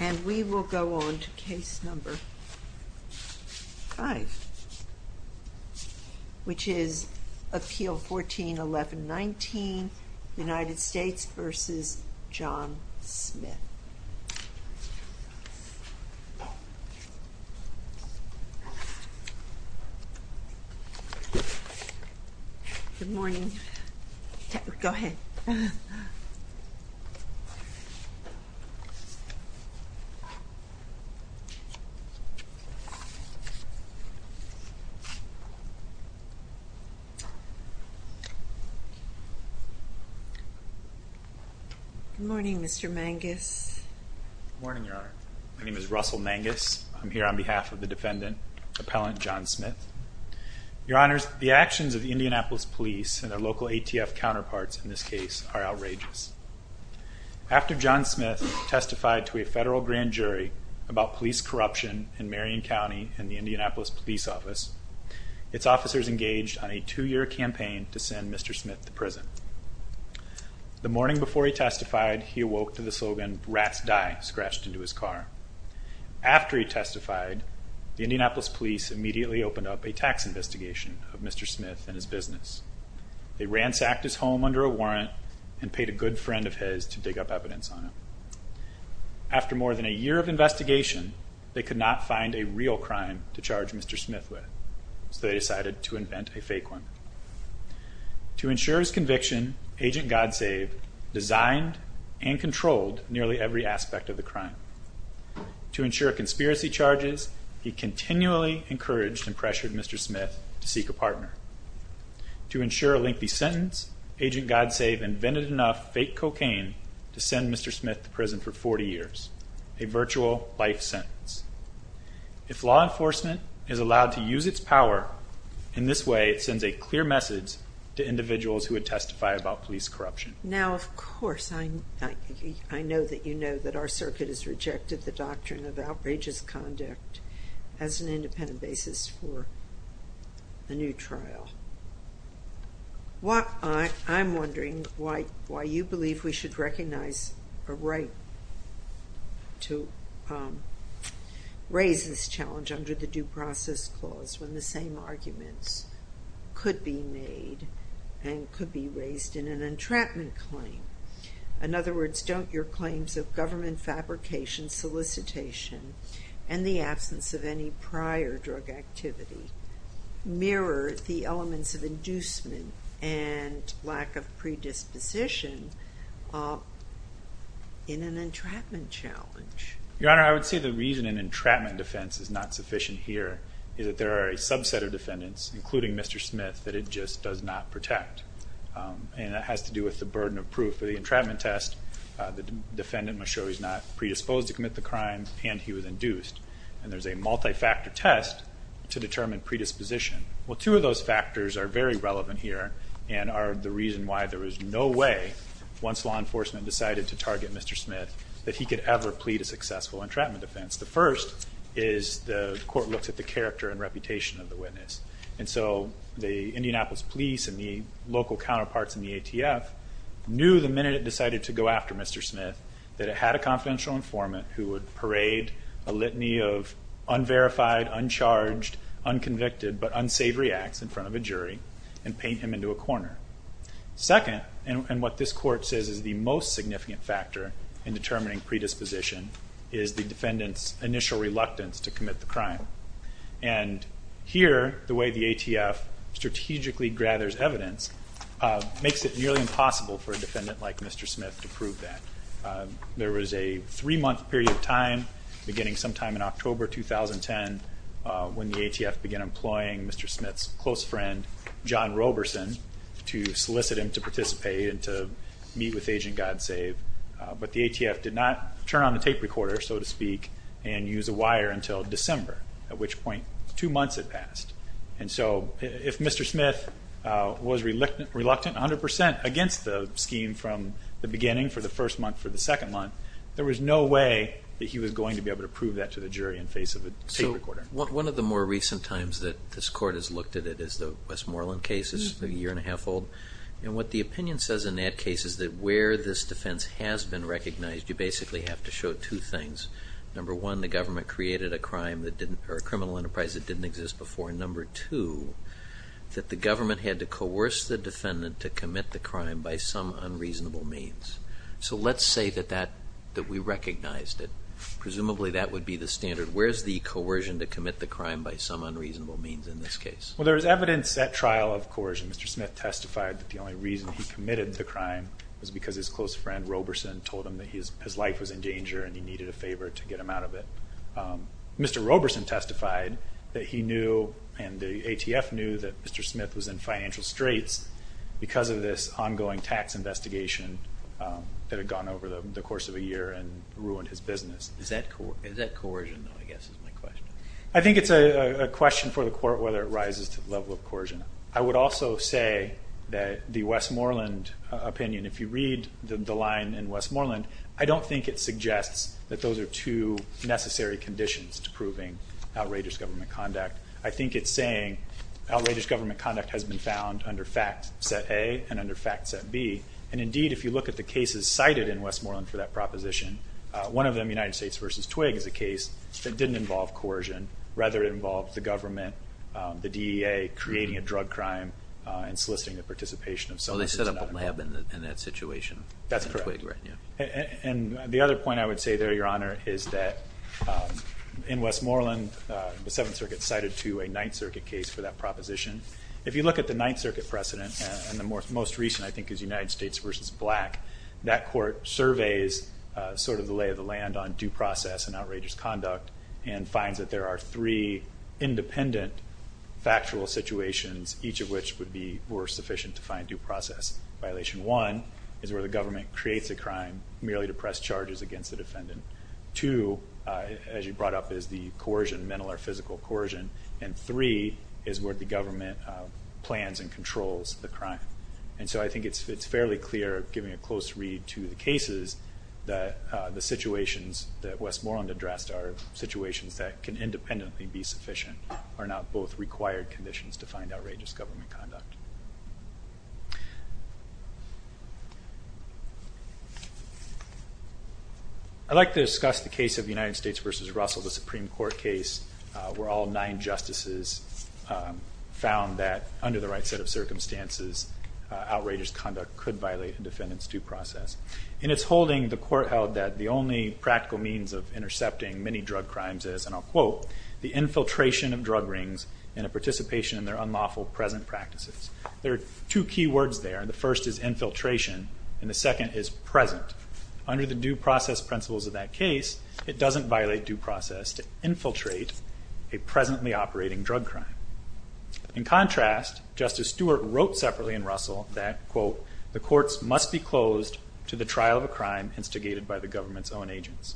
And we will go on to Case No. 5, which is Appeal 14-1119, United States v. John Smith. Good morning. Go ahead. Good morning, Mr. Mangus. Good morning, Your Honor. My name is Russell Mangus. I'm here on behalf of the defendant, Appellant John Smith. Your Honors, the actions of the Indianapolis Police and their local ATF counterparts in this case are outrageous. After John Smith testified to a federal grand jury about police corruption in Marion County and the Indianapolis Police Office, its officers engaged on a two-year campaign to send Mr. Smith to prison. The morning before he testified, he awoke to the slogan, rats die, scratched into his car. After he testified, the Indianapolis Police immediately opened up a tax investigation of Mr. Smith and his business. They ransacked his home under a warrant and paid a good friend of his to dig up evidence on him. After more than a year of investigation, they could not find a real crime to charge Mr. Smith with, so they decided to invent a fake one. To ensure his conviction, Agent Godsave designed and controlled nearly every aspect of the crime. To ensure conspiracy charges, he continually encouraged and pressured Mr. Smith to seek a partner. To ensure a lengthy sentence, Agent Godsave invented enough fake cocaine to send Mr. Smith to prison for 40 years, a virtual life sentence. If law enforcement is allowed to use its power in this way, it sends a clear message to individuals who would testify about police corruption. Now, of course, I know that you know that our circuit has rejected the doctrine of outrageous conduct as an independent basis for a new trial. I'm wondering why you believe we should recognize a right to raise this challenge under the Due Process Clause when the same arguments could be made and could be raised in an entrapment claim. In other words, don't your claims of government fabrication, solicitation, and the absence of any prior drug activity mirror the elements of inducement and lack of predisposition in an entrapment challenge? Your Honor, I would say the reason an entrapment defense is not sufficient here is that there are a subset of defendants, including Mr. Smith, that it just does not protect. And that has to do with the burden of proof. For the entrapment test, the defendant must show he's not predisposed to commit the crime and he was induced. And there's a multi-factor test to determine predisposition. Well, two of those factors are very relevant here and are the reason why there was no way, once law enforcement decided to target Mr. Smith, that he could ever plead a successful entrapment defense. The first is the court looks at the character and reputation of the witness. And so the Indianapolis police and the local counterparts in the ATF knew the minute it decided to go after Mr. Smith that it had a confidential informant who would parade a litany of unverified, uncharged, unconvicted, but unsavory acts in front of a jury and paint him into a corner. Second, and what this court says is the most significant factor in determining predisposition, is the defendant's initial reluctance to commit the crime. And here, the way the ATF strategically gathers evidence makes it nearly impossible for a defendant like Mr. Smith to prove that. There was a three-month period of time, beginning sometime in October 2010, when the ATF began employing Mr. Smith's close friend, John Roberson, to solicit him to participate and to meet with Agent God Save. But the ATF did not turn on the tape recorder, so to speak, and use a wire until December, at which point two months had passed. And so if Mr. Smith was reluctant 100% against the scheme from the beginning, for the first month, for the second month, there was no way that he was going to be able to prove that to the jury in face of a tape recorder. So one of the more recent times that this court has looked at it is the Westmoreland case. It's a year and a half old. And what the opinion says in that case is that where this defense has been recognized, you basically have to show two things. Number one, the government created a crime that didn't or a criminal enterprise that didn't exist before. Number two, that the government had to coerce the defendant to commit the crime by some unreasonable means. So let's say that we recognized it. Presumably that would be the standard. Where is the coercion to commit the crime by some unreasonable means in this case? Well, there is evidence at trial of coercion. Mr. Smith testified that the only reason he committed the crime was because his close friend, Mr. Roberson, told him that his life was in danger and he needed a favor to get him out of it. Mr. Roberson testified that he knew and the ATF knew that Mr. Smith was in financial straits because of this ongoing tax investigation that had gone over the course of a year and ruined his business. Is that coercion, though, I guess is my question. I think it's a question for the court whether it rises to the level of coercion. I would also say that the Westmoreland opinion, if you read the line in Westmoreland, I don't think it suggests that those are two necessary conditions to proving outrageous government conduct. I think it's saying outrageous government conduct has been found under fact set A and under fact set B. And, indeed, if you look at the cases cited in Westmoreland for that proposition, one of them, United States v. Twigg, is a case that didn't involve coercion. Rather, it involved the government, the DEA creating a drug crime and soliciting the participation of someone. Well, they set up a lab in that situation. That's correct. And the other point I would say there, Your Honor, is that in Westmoreland, the Seventh Circuit cited to a Ninth Circuit case for that proposition. If you look at the Ninth Circuit precedent, and the most recent, I think, is United States v. Black, that court surveys sort of the lay of the land on due process and outrageous conduct and finds that there are three independent factual situations, each of which would be more sufficient to find due process. Violation one is where the government creates a crime merely to press charges against the defendant. Two, as you brought up, is the coercion, mental or physical coercion. And three is where the government plans and controls the crime. And so I think it's fairly clear, giving a close read to the cases, that the situations that Westmoreland addressed are situations that can independently be sufficient are not both required conditions to find outrageous government conduct. I'd like to discuss the case of United States v. Russell, the Supreme Court case, where all nine justices found that, under the right set of circumstances, outrageous conduct could violate a defendant's due process. And it's holding the court held that the only practical means of intercepting many drug crimes is, and I'll quote, the infiltration of drug rings and a participation in their unlawful present practices. There are two key words there. The first is infiltration, and the second is present. Under the due process principles of that case, it doesn't violate due process to infiltrate a presently operating drug crime. In contrast, Justice Stewart wrote separately in Russell that, quote, the courts must be closed to the trial of a crime instigated by the government's own agents.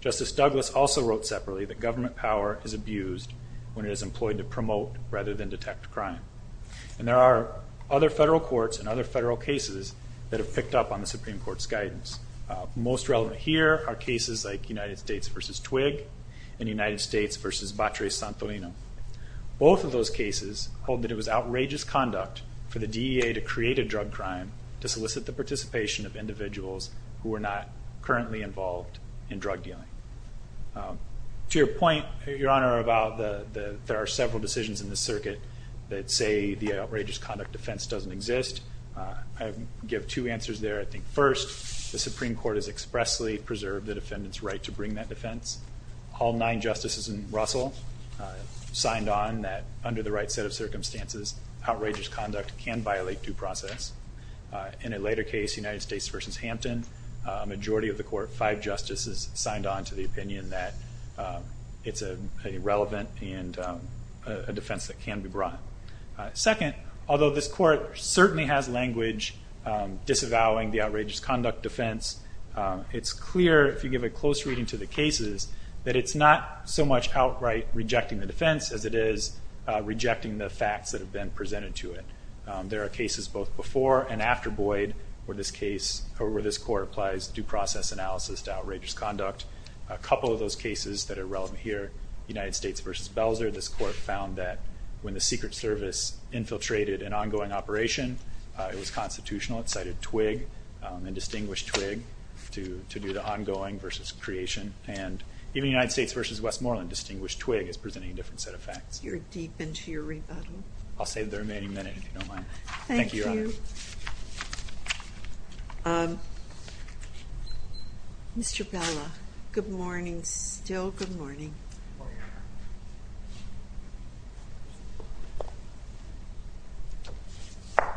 Justice Douglas also wrote separately that government power is abused when it is employed to promote rather than detect crime. And there are other federal courts and other federal cases that have picked up on the Supreme Court's guidance. Most relevant here are cases like United States v. Twigg and United States v. Batres-Santolino. Both of those cases hold that it was outrageous conduct for the DEA to create a drug crime to solicit the participation of individuals who are not currently involved in drug dealing. To your point, Your Honor, about there are several decisions in the circuit that say the outrageous conduct defense doesn't exist, I give two answers there. First, the Supreme Court has expressly preserved the defendant's right to bring that defense. All nine justices in Russell signed on that under the right set of circumstances, outrageous conduct can violate due process. In a later case, United States v. Hampton, a majority of the court, five justices, signed on to the opinion that it's irrelevant and a defense that can be brought. Second, although this court certainly has language disavowing the outrageous conduct defense, it's clear, if you give a close reading to the cases, that it's not so much outright rejecting the defense as it is rejecting the facts that have been presented to it. There are cases both before and after Boyd where this court applies due process analysis to outrageous conduct. A couple of those cases that are relevant here, United States v. Belzer, this court found that when the Secret Service infiltrated an ongoing operation, it was constitutional. It cited TWIG and distinguished TWIG to do the ongoing versus creation. And even United States v. Westmoreland, distinguished TWIG is presenting a different set of facts. You're deep into your rebuttal. I'll save the remaining minute if you don't mind. Thank you. Thank you, Your Honor. Thank you. Mr. Bella, good morning still. Good morning. Good morning, Your Honor.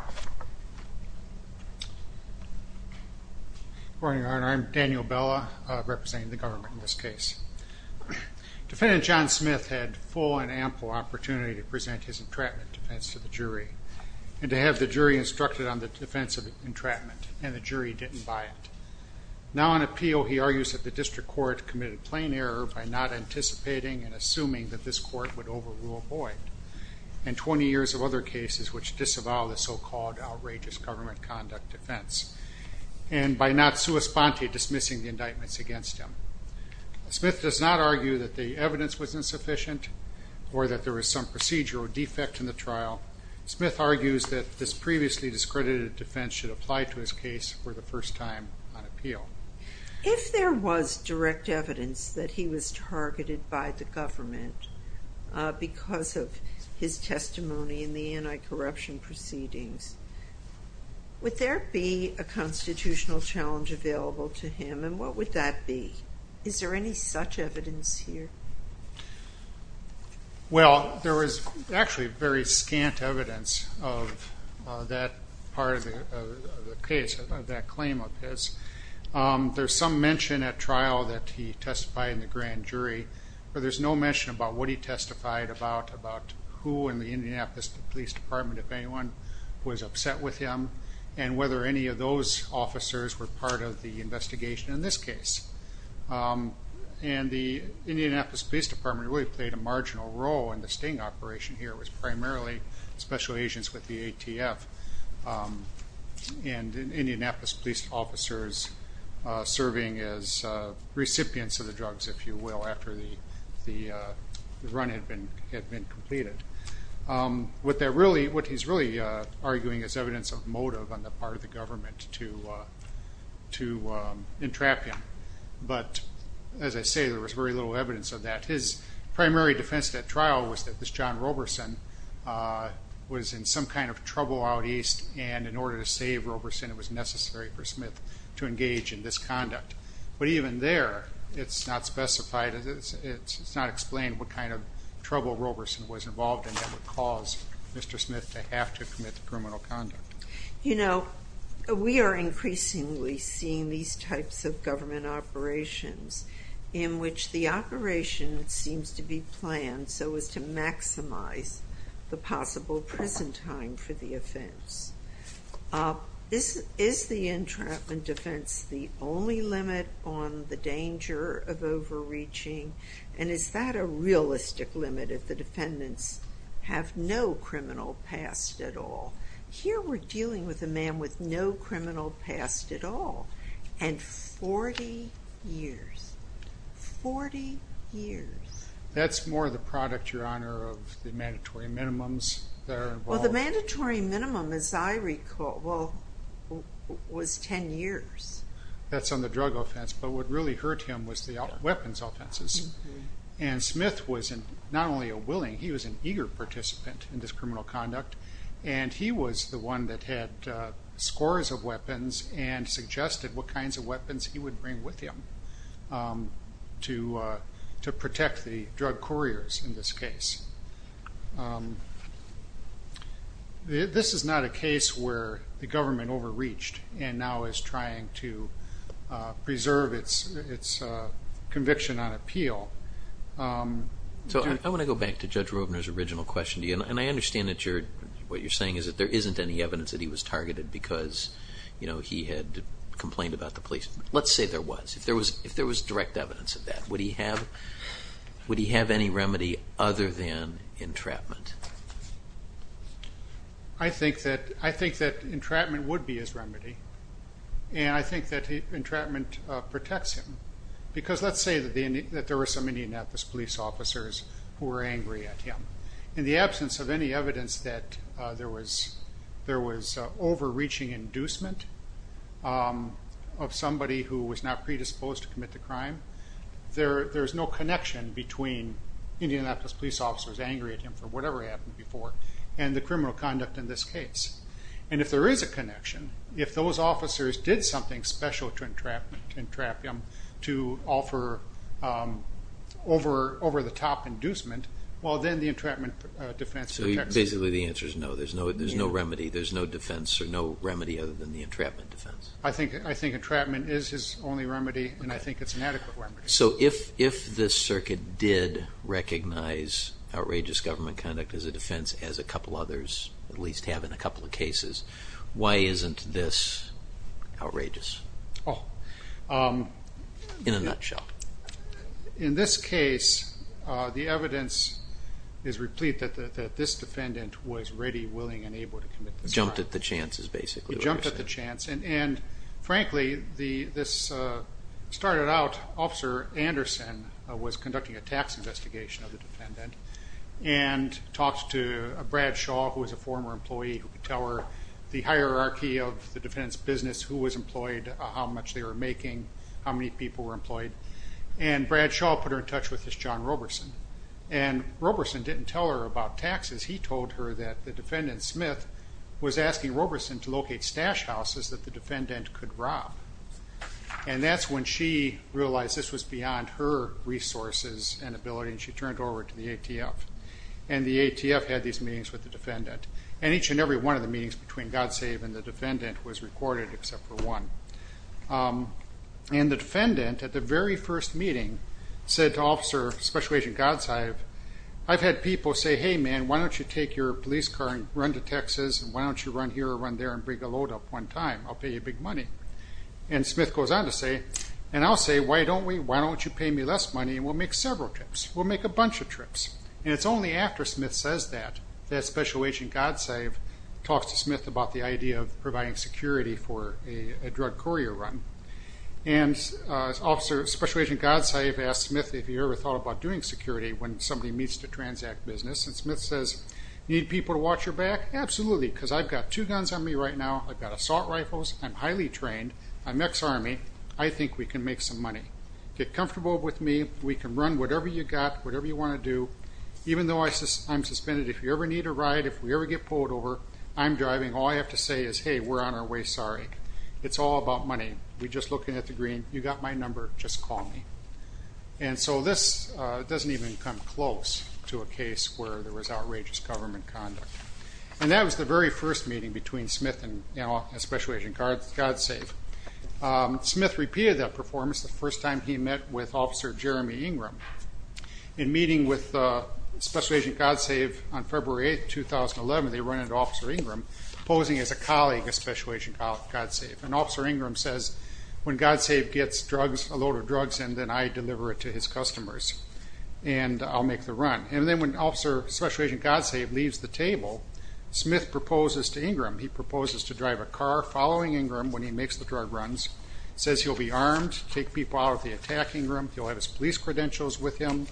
Good morning, Your Honor. I'm Daniel Bella representing the government in this case. Defendant John Smith had full and ample opportunity to present his entrapment defense to the jury and to have the jury instructed on the defense of entrapment, and the jury didn't buy it. Now on appeal, he argues that the district court committed plain error by not anticipating and assuming that this court would overrule Boyd and 20 years of other cases which disavow the so-called outrageous government conduct defense and by not sua sponte dismissing the indictments against him. Smith does not argue that the evidence was insufficient or that there was some procedural defect in the trial. Smith argues that this previously discredited defense should apply to his case for the first time on appeal. If there was direct evidence that he was targeted by the government because of his testimony in the anti-corruption proceedings, would there be a constitutional challenge available to him, and what would that be? Is there any such evidence here? Well, there was actually very scant evidence of that part of the case, of that claim of his. There's some mention at trial that he testified in the grand jury, but there's no mention about what he testified about, about who in the Indianapolis Police Department, if anyone, was upset with him, and whether any of those officers were part of the investigation in this case. And the Indianapolis Police Department really played a marginal role in the sting operation here. It was primarily special agents with the ATF and Indianapolis police officers serving as recipients of the drugs, if you will, after the run had been completed. What he's really arguing is evidence of motive on the part of the government to entrap him. But as I say, there was very little evidence of that. His primary defense at trial was that this John Roberson was in some kind of trouble out east, and in order to save Roberson, it was necessary for Smith to engage in this conduct. But even there, it's not specified, it's not explained what kind of trouble Roberson was involved in that would cause Mr. Smith to have to commit the criminal conduct. You know, we are increasingly seeing these types of government operations in which the operation seems to be planned so as to maximize the possible prison time for the offense. Is the entrapment defense the only limit on the danger of overreaching? And is that a realistic limit if the defendants have no criminal past at all? Here we're dealing with a man with no criminal past at all, and 40 years. Forty years. That's more the product, Your Honor, of the mandatory minimums that are involved. Well, the mandatory minimum, as I recall, was 10 years. That's on the drug offense, but what really hurt him was the weapons offenses. And Smith was not only a willing, he was an eager participant in this criminal conduct, and he was the one that had scores of weapons and suggested what kinds of weapons he would bring with him to protect the drug couriers in this case. This is not a case where the government overreached and now is trying to preserve its conviction on appeal. So I want to go back to Judge Rovner's original question to you, and I understand what you're saying is that there isn't any evidence that he was targeted because he had complained about the police. Let's say there was, if there was direct evidence of that. Would he have any remedy other than entrapment? I think that entrapment would be his remedy, and I think that entrapment protects him. Because let's say that there were some Indianapolis police officers who were angry at him. In the absence of any evidence that there was overreaching inducement of somebody who was not predisposed to commit the crime, there's no connection between Indianapolis police officers angry at him for whatever happened before and the criminal conduct in this case. And if there is a connection, if those officers did something special to entrap him, to offer over-the-top inducement, well, then the entrapment defense protects him. So basically the answer is no. There's no remedy. There's no defense or no remedy other than the entrapment defense. I think entrapment is his only remedy, and I think it's an adequate remedy. So if this circuit did recognize outrageous government conduct as a defense, as a couple others at least have in a couple of cases, why isn't this outrageous in a nutshell? In this case, the evidence is replete that this defendant was ready, willing, and able to commit this crime. He jumped at the chance. And, frankly, this started out Officer Anderson was conducting a tax investigation of the defendant and talked to Brad Shaw, who was a former employee, who could tell her the hierarchy of the defendant's business, who was employed, how much they were making, how many people were employed. And Brad Shaw put her in touch with this John Roberson. And Roberson didn't tell her about taxes. He told her that the defendant, Smith, was asking Roberson to locate stash houses that the defendant could rob. And that's when she realized this was beyond her resources and ability, and she turned over to the ATF. And the ATF had these meetings with the defendant. And each and every one of the meetings between God Save and the defendant was recorded except for one. And the defendant, at the very first meeting, said to Officer Special Agent God Save, I've had people say, hey, man, why don't you take your police car and run to Texas, and why don't you run here or run there and bring a load up one time? I'll pay you big money. And Smith goes on to say, and I'll say, why don't we? Why don't you pay me less money, and we'll make several trips. We'll make a bunch of trips. And it's only after Smith says that that Special Agent God Save talks to Smith about the idea of providing security for a drug courier run. And Special Agent God Save asks Smith if he ever thought about doing security when somebody meets to transact business. And Smith says, need people to watch your back? Absolutely, because I've got two guns on me right now. I've got assault rifles. I'm highly trained. I'm ex-Army. I think we can make some money. Get comfortable with me. We can run whatever you've got, whatever you want to do. Even though I'm suspended, if you ever need a ride, if we ever get pulled over, I'm driving. All I have to say is, hey, we're on our way. Sorry. It's all about money. We're just looking at the green. You've got my number. Just call me. And so this doesn't even come close to a case where there was outrageous government conduct. And that was the very first meeting between Smith and Special Agent God Save. Smith repeated that performance the first time he met with Officer Jeremy Ingram. In meeting with Special Agent God Save on February 8, 2011, they run into Officer Ingram posing as a colleague of Special Agent God Save. And Officer Ingram says, when God Save gets a load of drugs in, then I deliver it to his customers, and I'll make the run. And then when Special Agent God Save leaves the table, Smith proposes to Ingram. He proposes to drive a car following Ingram when he makes the drug runs, says he'll be armed, take people out if they attack Ingram, he'll have his police credentials with him,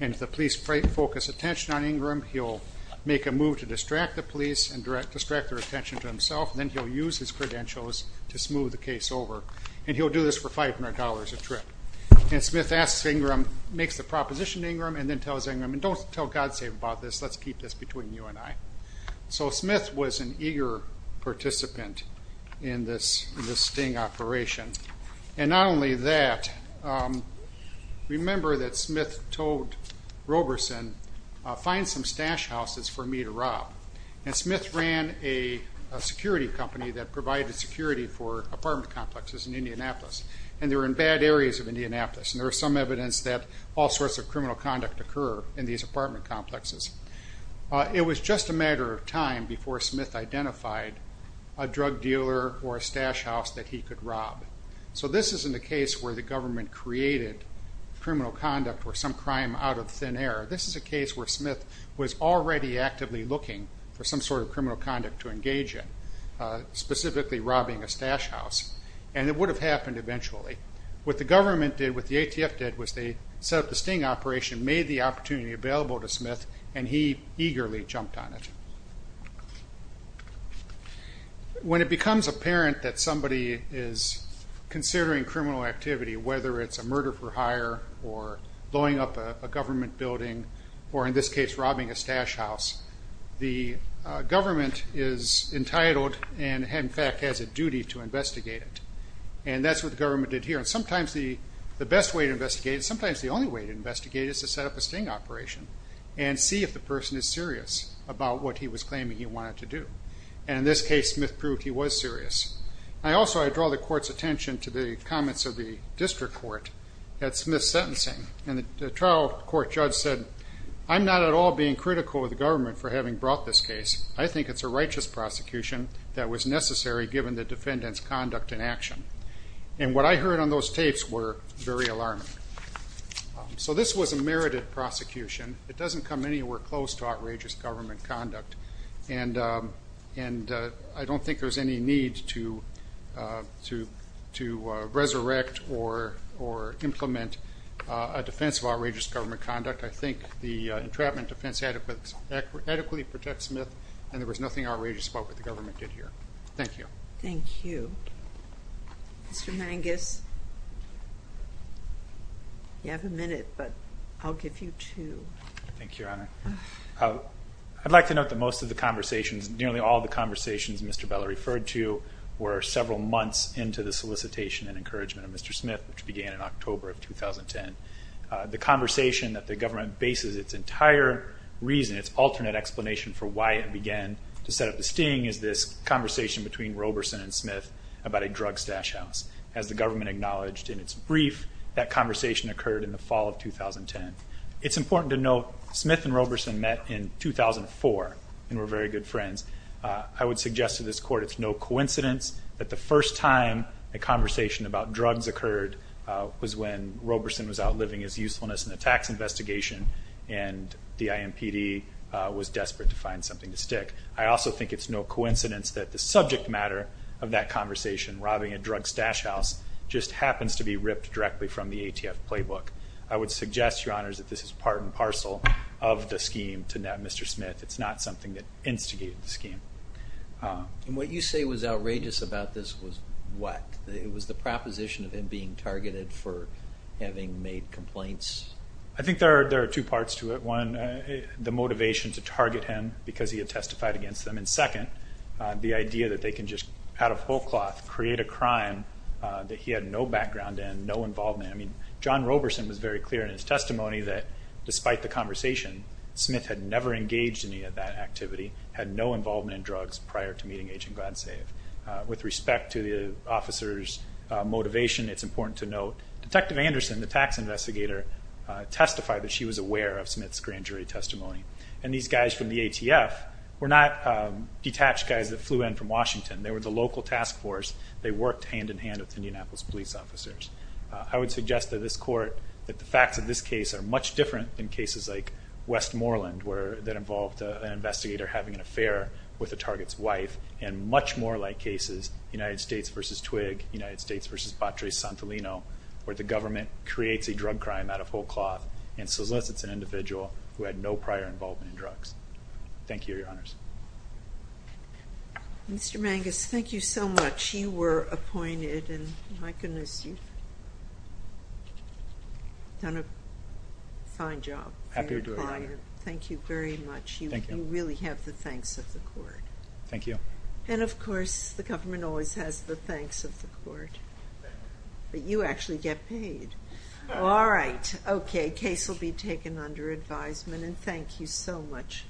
and if the police focus attention on Ingram, he'll make a move to distract the police and distract their attention to himself, and then he'll use his credentials to smooth the case over. And he'll do this for $500 a trip. And Smith asks Ingram, makes the proposition to Ingram, and then tells Ingram, don't tell God Save about this, let's keep this between you and I. So Smith was an eager participant in this sting operation. And not only that, remember that Smith told Roberson, find some stash houses for me to rob. And Smith ran a security company that provided security for apartment complexes in Indianapolis, and they were in bad areas of Indianapolis, and there was some evidence that all sorts of criminal conduct occurred in these apartment complexes. It was just a matter of time before Smith identified a drug dealer or a stash house that he could rob. So this isn't a case where the government created criminal conduct or some crime out of thin air. This is a case where Smith was already actively looking for some sort of criminal conduct to engage in, specifically robbing a stash house. And it would have happened eventually. What the government did, what the ATF did, was they set up the sting operation, made the opportunity available to Smith, and he eagerly jumped on it. When it becomes apparent that somebody is considering criminal activity, whether it's a murder for hire or blowing up a government building or, in this case, robbing a stash house, the government is entitled and, in fact, has a duty to investigate it. And that's what the government did here. And sometimes the best way to investigate it, sometimes the only way to investigate it, is to set up a sting operation and see if the person is serious about what he was claiming he wanted to do. And in this case, Smith proved he was serious. Also, I draw the court's attention to the comments of the district court at Smith's sentencing. And the trial court judge said, I'm not at all being critical of the government for having brought this case. I think it's a righteous prosecution that was necessary given the defendant's conduct and action. And what I heard on those tapes were very alarming. So this was a merited prosecution. It doesn't come anywhere close to outrageous government conduct. And I don't think there's any need to resurrect or implement a defense of outrageous government conduct. I think the entrapment defense adequately protects Smith, and there was nothing outrageous about what the government did here. Thank you. Thank you. Mr. Mangus, you have a minute, but I'll give you two. Thank you, Your Honor. I'd like to note that most of the conversations, nearly all of the conversations Mr. Bella referred to, were several months into the solicitation and encouragement of Mr. Smith, which began in October of 2010. The conversation that the government bases its entire reason, its alternate explanation for why it began to set up the sting, is this conversation between Roberson and Smith about a drug stash house. As the government acknowledged in its brief, that conversation occurred in the fall of 2010. It's important to note Smith and Roberson met in 2004 and were very good friends. I would suggest to this Court it's no coincidence that the first time a conversation about drugs occurred was when Roberson was out living his usefulness in a tax investigation, and the IMPD was desperate to find something to stick. I also think it's no coincidence that the subject matter of that conversation, robbing a drug stash house, just happens to be ripped directly from the ATF playbook. I would suggest, Your Honors, that this is part and parcel of the scheme to net Mr. Smith. It's not something that instigated the scheme. And what you say was outrageous about this was what? It was the proposition of him being targeted for having made complaints? I think there are two parts to it. One, the motivation to target him because he had testified against them, and second, the idea that they can just out of whole cloth create a crime that he had no background in, had no involvement. I mean, John Roberson was very clear in his testimony that despite the conversation, Smith had never engaged in any of that activity, had no involvement in drugs prior to meeting Agent Gladsave. With respect to the officer's motivation, it's important to note Detective Anderson, the tax investigator, testified that she was aware of Smith's grand jury testimony. And these guys from the ATF were not detached guys that flew in from Washington. They were the local task force. They worked hand-in-hand with Indianapolis police officers. I would suggest to this court that the facts of this case are much different than cases like Westmoreland, that involved an investigator having an affair with a target's wife, and much more like cases, United States v. Twigg, United States v. Batres-Santolino, where the government creates a drug crime out of whole cloth and solicits an individual who had no prior involvement in drugs. Thank you, Your Honors. Mr. Mangus, thank you so much. You were appointed, and my goodness, you've done a fine job. Happy to do it, Your Honor. Thank you very much. Thank you. You really have the thanks of the court. Thank you. And, of course, the government always has the thanks of the court. But you actually get paid. All right. Okay. Case will be taken under advisement, and thank you so much.